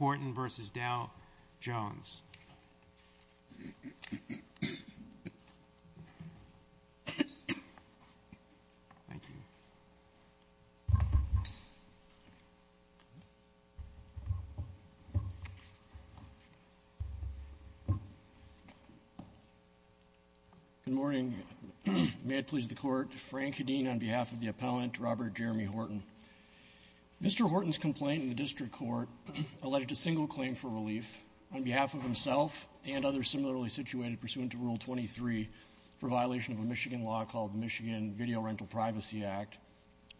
Good morning. May it please the Court, Frank Hedin on behalf of the Appellant, Robert Jeremy Horton's complaint in the District Court alleged a single claim for relief on behalf of himself and others similarly situated pursuant to Rule 23 for violation of a Michigan law called the Michigan Video Rental Privacy Act,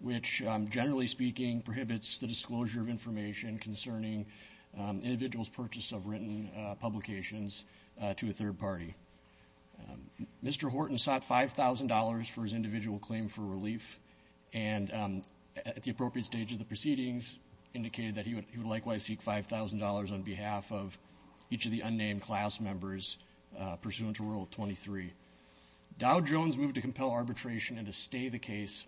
which, generally speaking, prohibits the disclosure of information concerning individuals' purchase of written publications to a third party. Mr. Horton sought $5,000 for his individual claim for relief and, at the appropriate stage of the proceedings, indicated that he would likewise seek $5,000 on behalf of each of the unnamed class members pursuant to Rule 23. Dow Jones moved to compel arbitration and to stay the case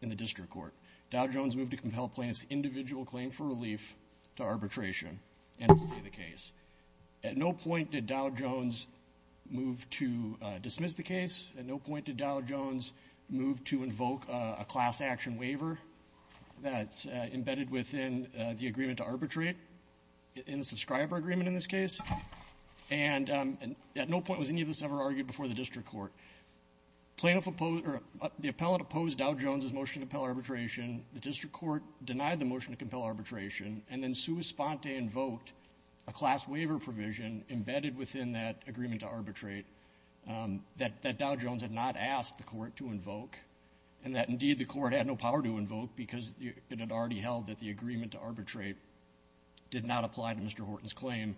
in the District Court. Dow Jones moved to compel plaintiffs' individual claim for relief to arbitration and to stay the case. At no point did Dow Jones move to dismiss the case. At no point did Dow Jones move to invoke a class-action waiver that's embedded within the agreement to arbitrate, in the Subscriber Agreement in this case. And at no point was any of this ever argued before the District Court. Plaintiff opposed or the Appellant opposed Dow Jones' motion to compel arbitration. The District Court denied the motion to compel arbitration. And then Sua Sponte invoked a class-waiver provision embedded within that agreement to arbitrate that Dow Jones had not asked the Court to invoke. And that, indeed, the Court had no power to invoke because it had already held that the agreement to arbitrate did not apply to Mr. Horton's claim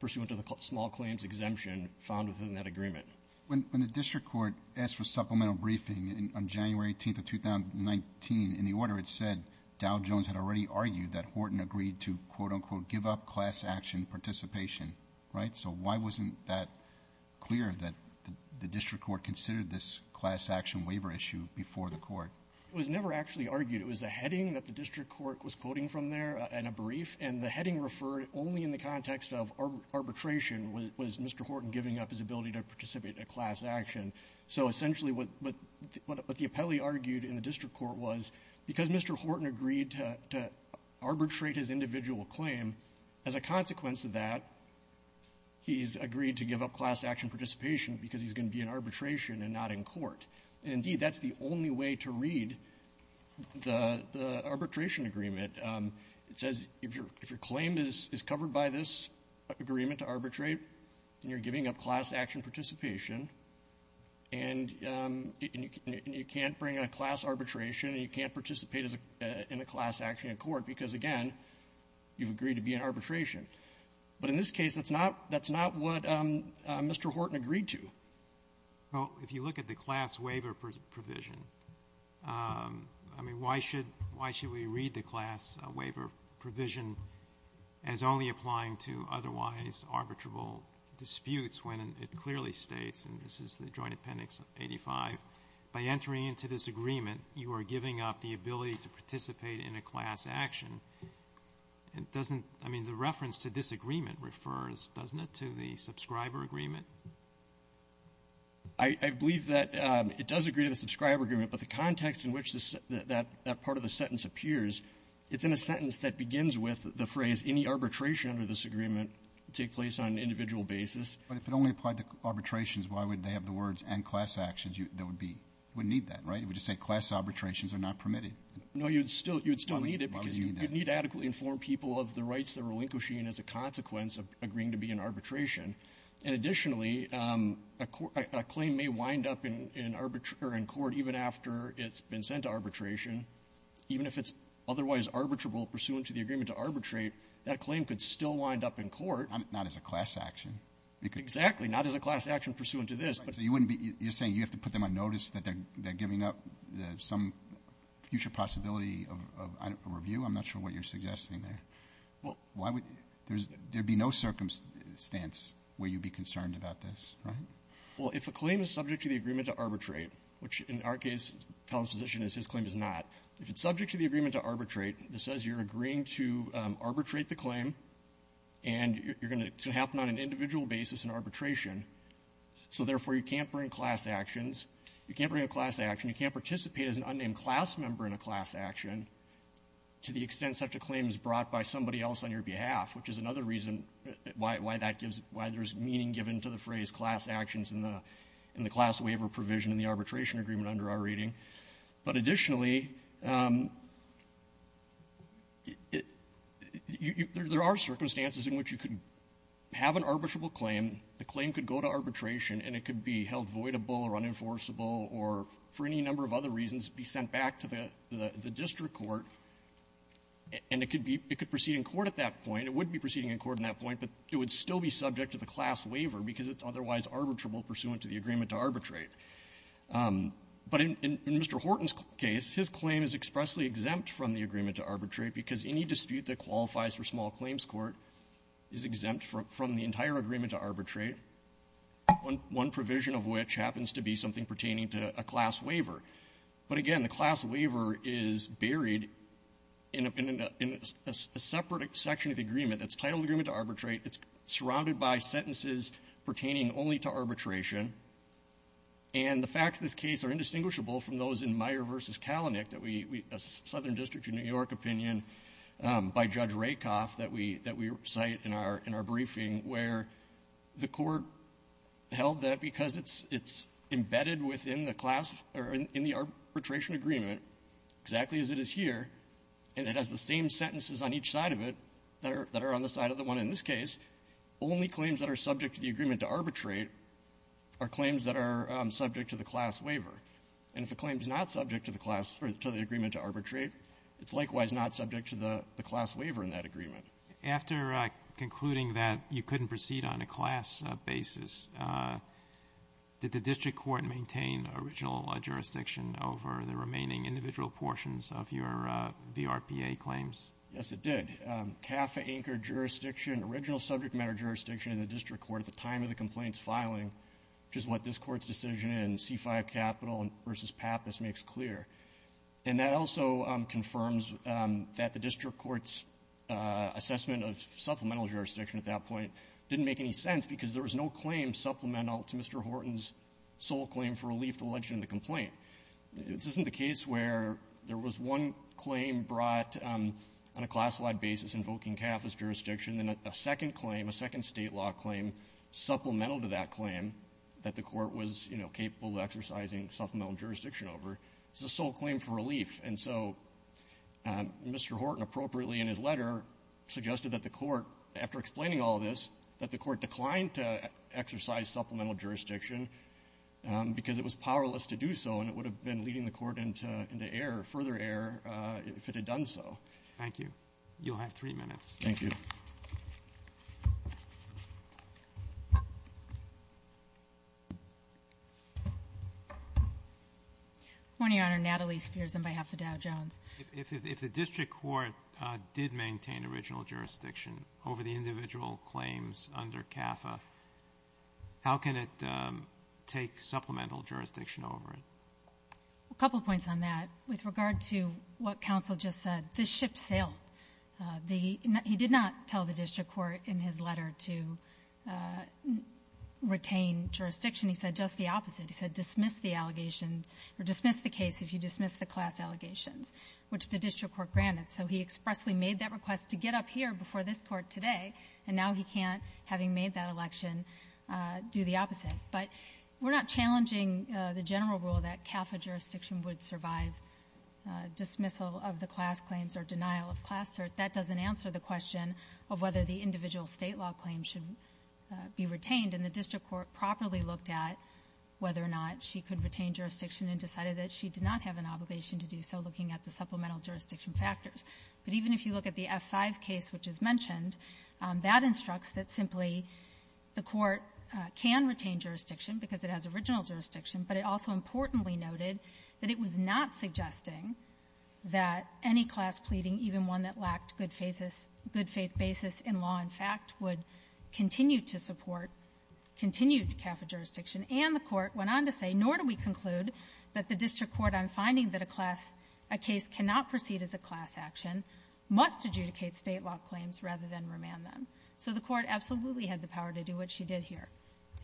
pursuant to the small claims exemption found within that agreement. When the District Court asked for supplemental briefing on January 18th of 2019, in the order it said Dow Jones had already argued that Horton agreed to, quote-unquote, give up class-action participation, right? So why wasn't that clear that the District Court considered this class-action waiver issue before the Court? It was never actually argued. It was a heading that the District Court was quoting from there and a brief, and the heading referred only in the context of arbitration. Was Mr. Horton giving up his ability to participate in a class-action? So essentially what the appellee argued in the District Court was, because Mr. Horton agreed to arbitrate his individual claim, as a consequence of that, he's agreed to give up class-action participation because he's going to be in arbitration and not in court. And, indeed, that's the only way to read the arbitration agreement. It says if your claim is covered by this agreement to arbitrate, and you're giving up class-action participation and you can't bring in a class arbitration and you can't participate in a class-action in court because, again, you've agreed to be in arbitration. But in this case, that's not what Mr. Horton agreed to. Well, if you look at the class waiver provision, I mean, why should we read the class waiver provision as only applying to otherwise arbitrable disputes when it clearly states, and this is the Joint Appendix 85, by entering into this agreement, you are giving up the ability to participate in a class action. It doesn't, I mean, the reference to disagreement refers, doesn't it, to the subscriber agreement? I believe that it does agree to the subscriber agreement, but the context in which that part of the sentence appears, it's in a sentence that begins with the phrase, any arbitration under this agreement take place on an individual basis. But if it only applied to arbitrations, why would they have the words, and class actions, that would be need that, right? It would just say class arbitrations are not permitted. No, you'd still need it because you'd need to adequately inform people of the rights they're relinquishing as a consequence of agreeing to be in arbitration. And additionally, a claim may wind up in arbitration or in court even after it's been sent to arbitration. Even if it's otherwise arbitrable pursuant to the agreement to arbitrate, that claim could still wind up in court. Not as a class action. Exactly. Not as a class action pursuant to this. So you wouldn't be, you're saying you have to put them on notice that they're giving up some future possibility of a review? I'm not sure what you're suggesting there. Well, why would there be no circumstance where you'd be concerned about this, right? Well, if a claim is subject to the agreement to arbitrate, which in our case, Fallon's position is his claim is not. If it's subject to the agreement to arbitrate, this says you're agreeing to arbitrate the claim, and you're going to happen on an individual basis in arbitration, so therefore, you can't bring class actions, you can't bring a class action, you can't participate as an unnamed class member in a class action to the extent such a claim is brought by somebody else on your behalf, which is another reason why that gives why there's meaning given to the phrase class actions in the class waiver provision in the arbitration agreement under our reading. But additionally, there are circumstances in which you could have an arbitrable claim, the claim could go to arbitration, and it could be held voidable or unenforceable or for any number of other reasons be sent back to the district court, and it could be proceeding in court at that point. It would be proceeding in court at that point, but it would still be subject to the class waiver because it's otherwise arbitrable pursuant to the agreement to arbitrate. But in Mr. Horton's case, his claim is expressly exempt from the agreement to arbitrate because any dispute that qualifies for small claims court is exempt from the entire agreement to arbitrate, one provision of which happens to be something pertaining to a class waiver. But again, the class waiver is buried in a separate section of the agreement that's titled agreement to arbitrate. It's surrounded by sentences pertaining only to arbitration. And the facts of this case are indistinguishable from those in Meyer v. Kalanick, a southern district in New York opinion, by Judge Rakoff that we cite in our briefing, where the court held that because it's embedded within the class or in the class waiver, in the arbitration agreement, exactly as it is here, and it has the same sentences on each side of it that are on the side of the one in this case, only claims that are subject to the agreement to arbitrate are claims that are subject to the class waiver. And if a claim is not subject to the class or to the agreement to arbitrate, it's likewise not subject to the class waiver in that agreement. Robertson After concluding that you couldn't proceed on a class basis, did the district court maintain original jurisdiction over the remaining individual portions of your VRPA claims? McAllister Yes, it did. CAFA-anchored jurisdiction, original subject matter jurisdiction in the district court at the time of the complaint's filing, which is what this Court's decision in C-5 Capital v. Pappas makes clear. And that also confirms that the district court's assessment of supplemental jurisdiction at that point didn't make any sense because there was no claim supplemental to Mr. Horton's sole claim for relief to the legitimate complaint. This isn't the case where there was one claim brought on a class-wide basis invoking CAFA's jurisdiction, and then a second claim, a second State law claim supplemental to that claim that the Court was, you know, capable of exercising supplemental jurisdiction over. It's a sole claim for relief. And so Mr. Horton appropriately in his letter suggested that the Court, after explaining all this, that the Court declined to exercise supplemental jurisdiction because it was powerless to do so, and it would have been leading the Court into error, further error, if it had done so. Roberts Thank you. You'll have three minutes. McAllister Thank you. Ms. Spears Good morning, Your Honor. Natalie Spears on behalf of Dow Jones. If the district court did maintain original jurisdiction over the individual claims under CAFA, how can it take supplemental jurisdiction over it? Ms. Spears A couple points on that. With regard to what counsel just said, this ship sailed. The ñ he did not tell the district court in his letter to retain jurisdiction. He said just the opposite. He said dismiss the allegations or dismiss the case if you dismiss the class allegations. Which the district court granted. So he expressly made that request to get up here before this Court today, and now he can't, having made that election, do the opposite. But we're not challenging the general rule that CAFA jurisdiction would survive dismissal of the class claims or denial of class. That doesn't answer the question of whether the individual State law claims should be retained. And the district court properly looked at whether or not she could retain jurisdiction and decided that she did not have an obligation to do so, looking at the supplemental jurisdiction factors. But even if you look at the F-5 case, which is mentioned, that instructs that simply the Court can retain jurisdiction because it has original jurisdiction, but it also importantly noted that it was not suggesting that any class pleading, even one that lacked good-faith ñ good-faith basis in law and fact, would continue to support continued CAFA jurisdiction. And the Court went on to say, nor do we conclude that the district court, on finding that a class ñ a case cannot proceed as a class action, must adjudicate State law claims rather than remand them. So the Court absolutely had the power to do what she did here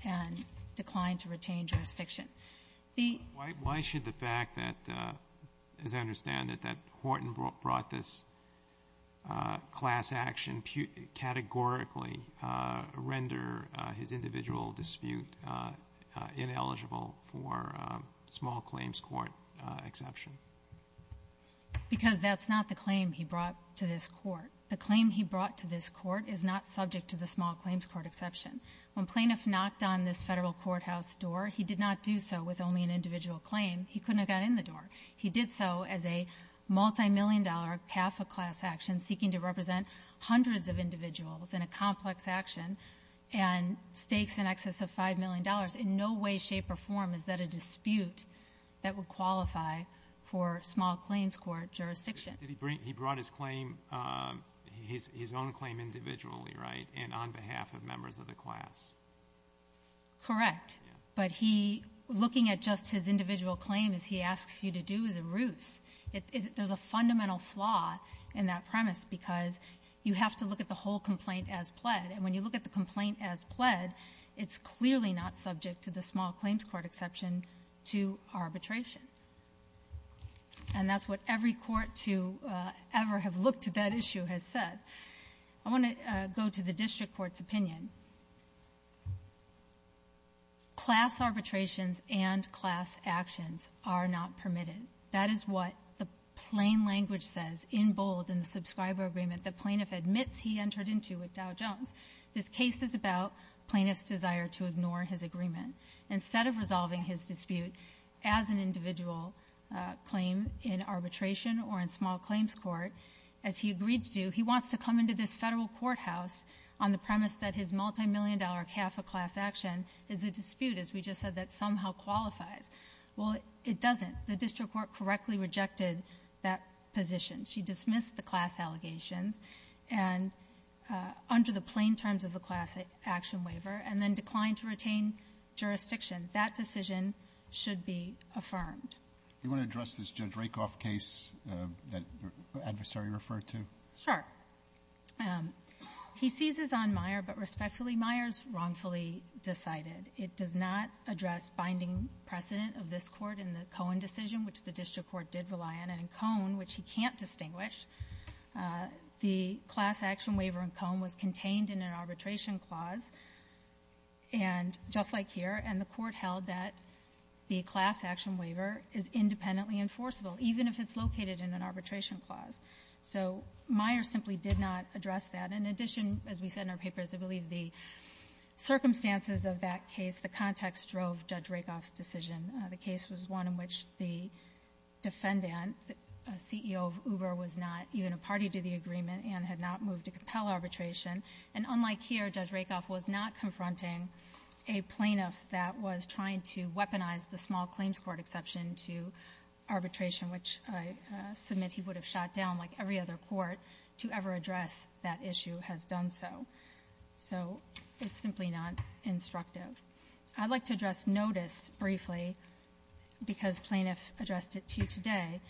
and declined to retain jurisdiction. The ñ Roberts. Why should the fact that, as I understand it, that Horton brought this class action categorically render his individual dispute ineligible for small claims court exception? Because that's not the claim he brought to this Court. The claim he brought to this Court is not subject to the small claims court exception. When plaintiff knocked on this Federal courthouse door, he did not do so with only an individual claim. He couldn't have got in the door. He did so as a multimillion-dollar CAFA class action seeking to represent hundreds of individuals in a complex action and stakes in excess of $5 million. In no way, shape, or form is that a dispute that would qualify for small claims court jurisdiction. Did he bring ñ he brought his claim, his own claim individually, right, and on behalf of members of the class? Correct. But he ñ looking at just his individual claim as he asks you to do is a ruse. There's a fundamental flaw in that premise because you have to look at the whole complaint as pled. And when you look at the complaint as pled, it's clearly not subject to the small claims court exception to arbitration. And that's what every court to ever have looked to that issue has said. I want to go to the district court's opinion. Class arbitrations and class actions are not permitted. That is what the district court has said. And that is what the plain language says in bold in the subscriber agreement the plaintiff admits he entered into with Dow Jones. This case is about plaintiff's desire to ignore his agreement. Instead of resolving his dispute as an individual claim in arbitration or in small claims court, as he agreed to do, he wants to come into this Federal courthouse on the premise that his multimillion-dollar CAFA class action is a dispute, as we just said, that somehow qualifies. Well, it doesn't. The district court correctly rejected that position. She dismissed the class allegations and under the plain terms of the class action waiver and then declined to retain jurisdiction. That decision should be affirmed. You want to address this Judge Rakoff case that your adversary referred to? Sure. He seizes on Meyer, but respectfully, Meyer's wrongfully decided. It does not address binding precedent of this Court in the Cohen decision, which the district court did rely on, and in Cohen, which he can't distinguish, the class action waiver in Cohen was contained in an arbitration clause, and just like here, and the Court held that the class action waiver is independently enforceable, even if it's located in an arbitration clause. So Meyer simply did not address that. In addition, as we said in our papers, I believe the circumstances of that case, the context drove Judge Rakoff's decision. The case was one in which the defendant, the CEO of Uber, was not even a party to the agreement and had not moved to compel arbitration, and unlike here, Judge Rakoff was not confronting a plaintiff that was trying to weaponize the small claims court exception to arbitration, which I submit he would have shot down like every other court to ever address that issue has done so. So it's simply not instructive. I'd like to address notice briefly, because plaintiff addressed it to you today.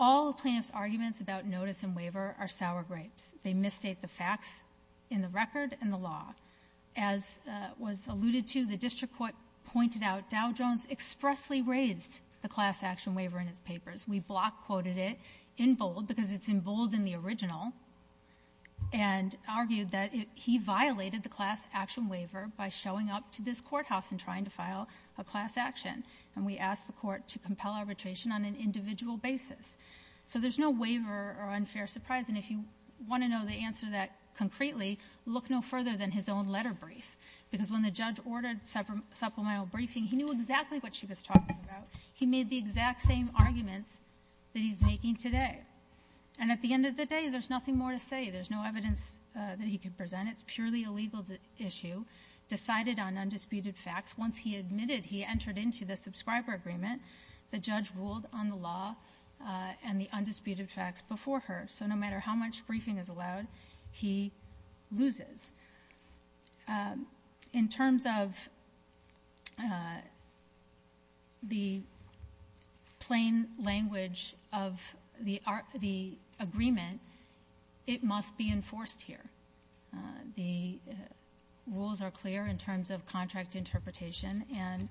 All the plaintiff's arguments about notice and waiver are sour grapes. They misstate the facts in the record and the law. As was alluded to, the district court pointed out Dow Jones expressly raised the class action waiver in his papers. We block-quoted it in bold because it's in bold in the original and argued that he violated the class action waiver by showing up to this courthouse and trying to file a class action, and we asked the court to compel arbitration on an individual basis. So there's no waiver or unfair surprise, and if you want to know the answer to that concretely, look no further than his own letter brief, because when the judge ordered supplemental briefing, he knew exactly what she was going to say. There's nothing more to say. There's no evidence that he could present. It's purely a legal issue. Decided on undisputed facts. Once he admitted he entered into the subscriber agreement, the judge ruled on the law and the undisputed facts before her. So no matter how much briefing is allowed, he loses. In terms of contract interpretation, and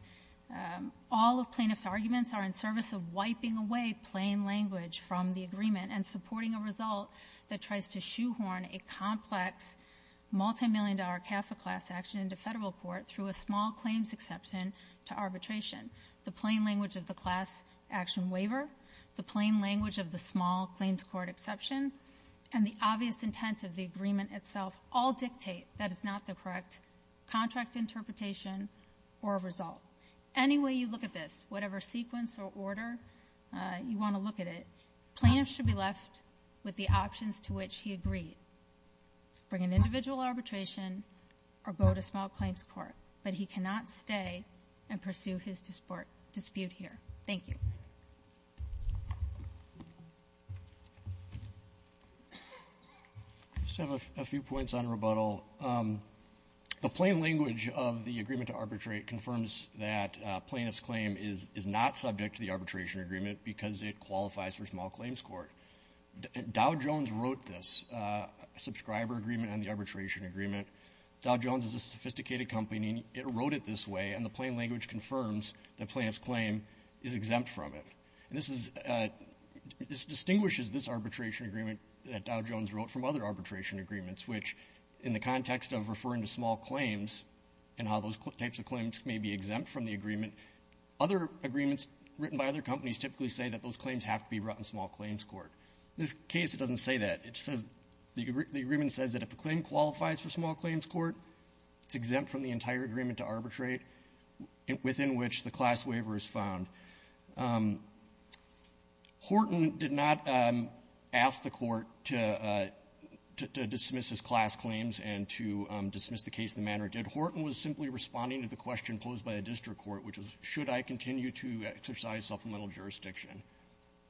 all of plaintiff's arguments are in service of wiping away plain language from the agreement and supporting a result that tries to shoehorn a complex, multimillion-dollar CAFA class action into Federal court through a small claims exception to arbitration. The plain language of the class action waiver, the plain language of the small claims court exception, and the exception to arbitration and the obvious intent of the agreement itself all dictate that it's not the correct contract interpretation or a result. Any way you look at this, whatever sequence or order you want to look at it, plaintiff should be left with the options to which he agreed. Bring an individual arbitration or go to small claims court. But he cannot stay and pursue his dispute here. Thank you. I just have a few points on rebuttal. The plain language of the agreement to arbitrate confirms that plaintiff's claim is not subject to the arbitration agreement because it qualifies for small claims court. Dow Jones wrote this, a subscriber agreement on the arbitration agreement. Dow Jones is a sophisticated company. It wrote it this way, and the plain language confirms that plaintiff's claim is exempt from it. And this is — this distinguishes this arbitration agreement that Dow Jones wrote from other arbitration agreements, which, in the context of referring to small claims and how those types of claims may be exempt from the agreement, other agreements written by other companies typically say that those claims have to be brought in small claims court. In this case, it doesn't say that. It says — the agreement says that if a claim qualifies for small claims court, it's exempt from the entire agreement to arbitrate, within which the class waiver is found. Horton did not ask the Court to — to dismiss his class claims and to dismiss the case in the manner it did. Horton was simply responding to the question posed by the district court, which was, should I continue to exercise supplemental jurisdiction?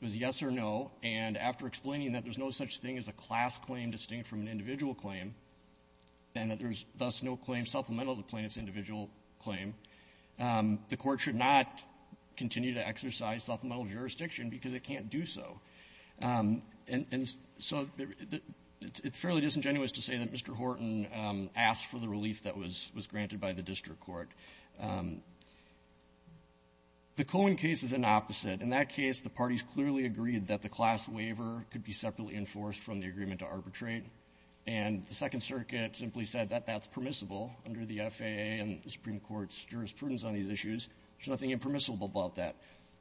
It was a yes or no. And after explaining that there's no such thing as a class claim distinct from an individual claim, and that there's thus no claim supplemental to the plaintiff's individual claim, the Court should not continue to exercise supplemental jurisdiction because it can't do so. And — and so it's fairly disingenuous to say that Mr. Horton asked for the relief that was — was granted by the district court. The Cohen case is an opposite. In that case, the parties clearly agreed that the class waiver could be separately enforced from the agreement to arbitrate, and the Second Circuit simply said that that's permissible under the FAA and the Supreme Court's jurisprudence on these issues. There's nothing impermissible about that.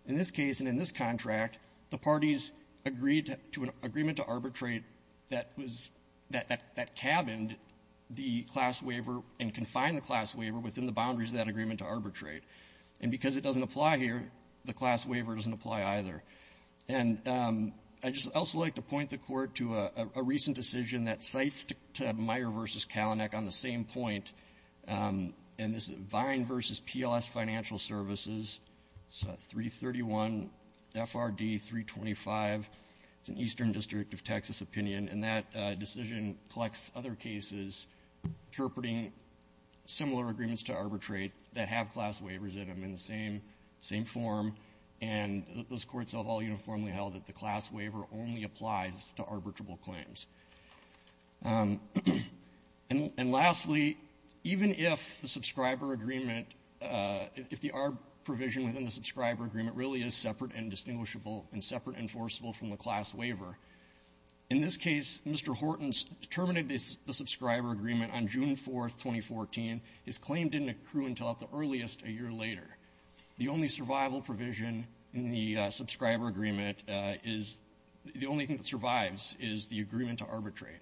In this case and in this contract, the parties agreed to an agreement to arbitrate that was — that — that cabined the class waiver and confined the class waiver within the boundaries of that agreement to arbitrate. And because it doesn't apply here, the class waiver doesn't apply either. And I just — I'd also like to point the Court to a recent decision that cites Meyer v. Kalanick on the same point, and this is Vine v. PLS Financial Services. It's a 331 FRD 325. It's an Eastern District of Texas opinion, and that decision collects other cases interpreting similar agreements to arbitrate that have class waivers in them in the same — same form, and those courts have all uniformly held that the class waiver only applies to arbitrable claims. And lastly, even if the subscriber agreement — if the ARB provision within the subscriber agreement really is separate and distinguishable and separate and forcible from the class waiver, in this case, Mr. Horton's terminated the subscriber agreement on June 4th, 2014. His claim didn't accrue until at the earliest a year later. The only survival provision in the subscriber agreement is — the only thing that survives is the agreement to arbitrate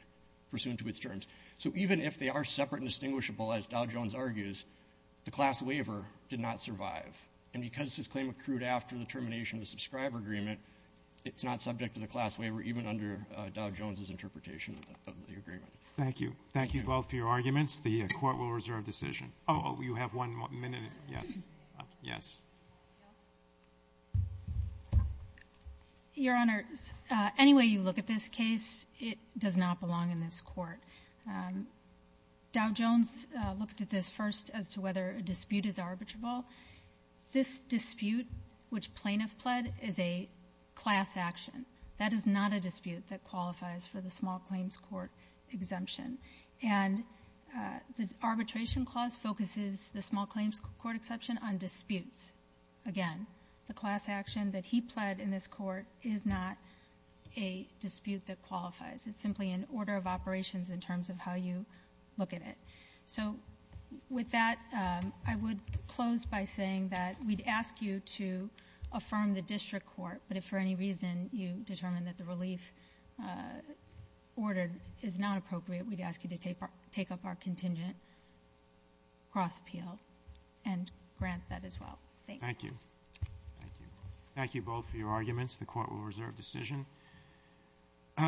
pursuant to its terms. So even if they are separate and distinguishable, as Dow Jones argues, the class waiver did not survive. And because this claim accrued after the termination of the subscriber agreement, it's not subject to the class waiver even under Dow Jones's interpretation of the agreement. Roberts. Thank you. Thank you both for your arguments. The Court will reserve decision. Oh, you have one minute. Yes. Yes. Your Honor, any way you look at this case, it does not belong in this Court. Dow Jones looked at this first as to whether a dispute is arbitrable. This dispute which plaintiff pled is a class action. That is not a dispute that qualifies for the small claims court exemption. And the Arbitration Clause focuses the small claims court exception on disputes. Again, the class action that he pled in this Court is not a dispute that qualifies. It's simply an order of operations in terms of how you look at it. So with that, I would close by saying that we'd ask you to affirm the district court. But if for any reason you determine that the relief ordered is not appropriate, we'd ask you to take up our contingent cross appeal and grant that as well. Thank you. Thank you. Thank you both for your arguments. The Court will reserve decision.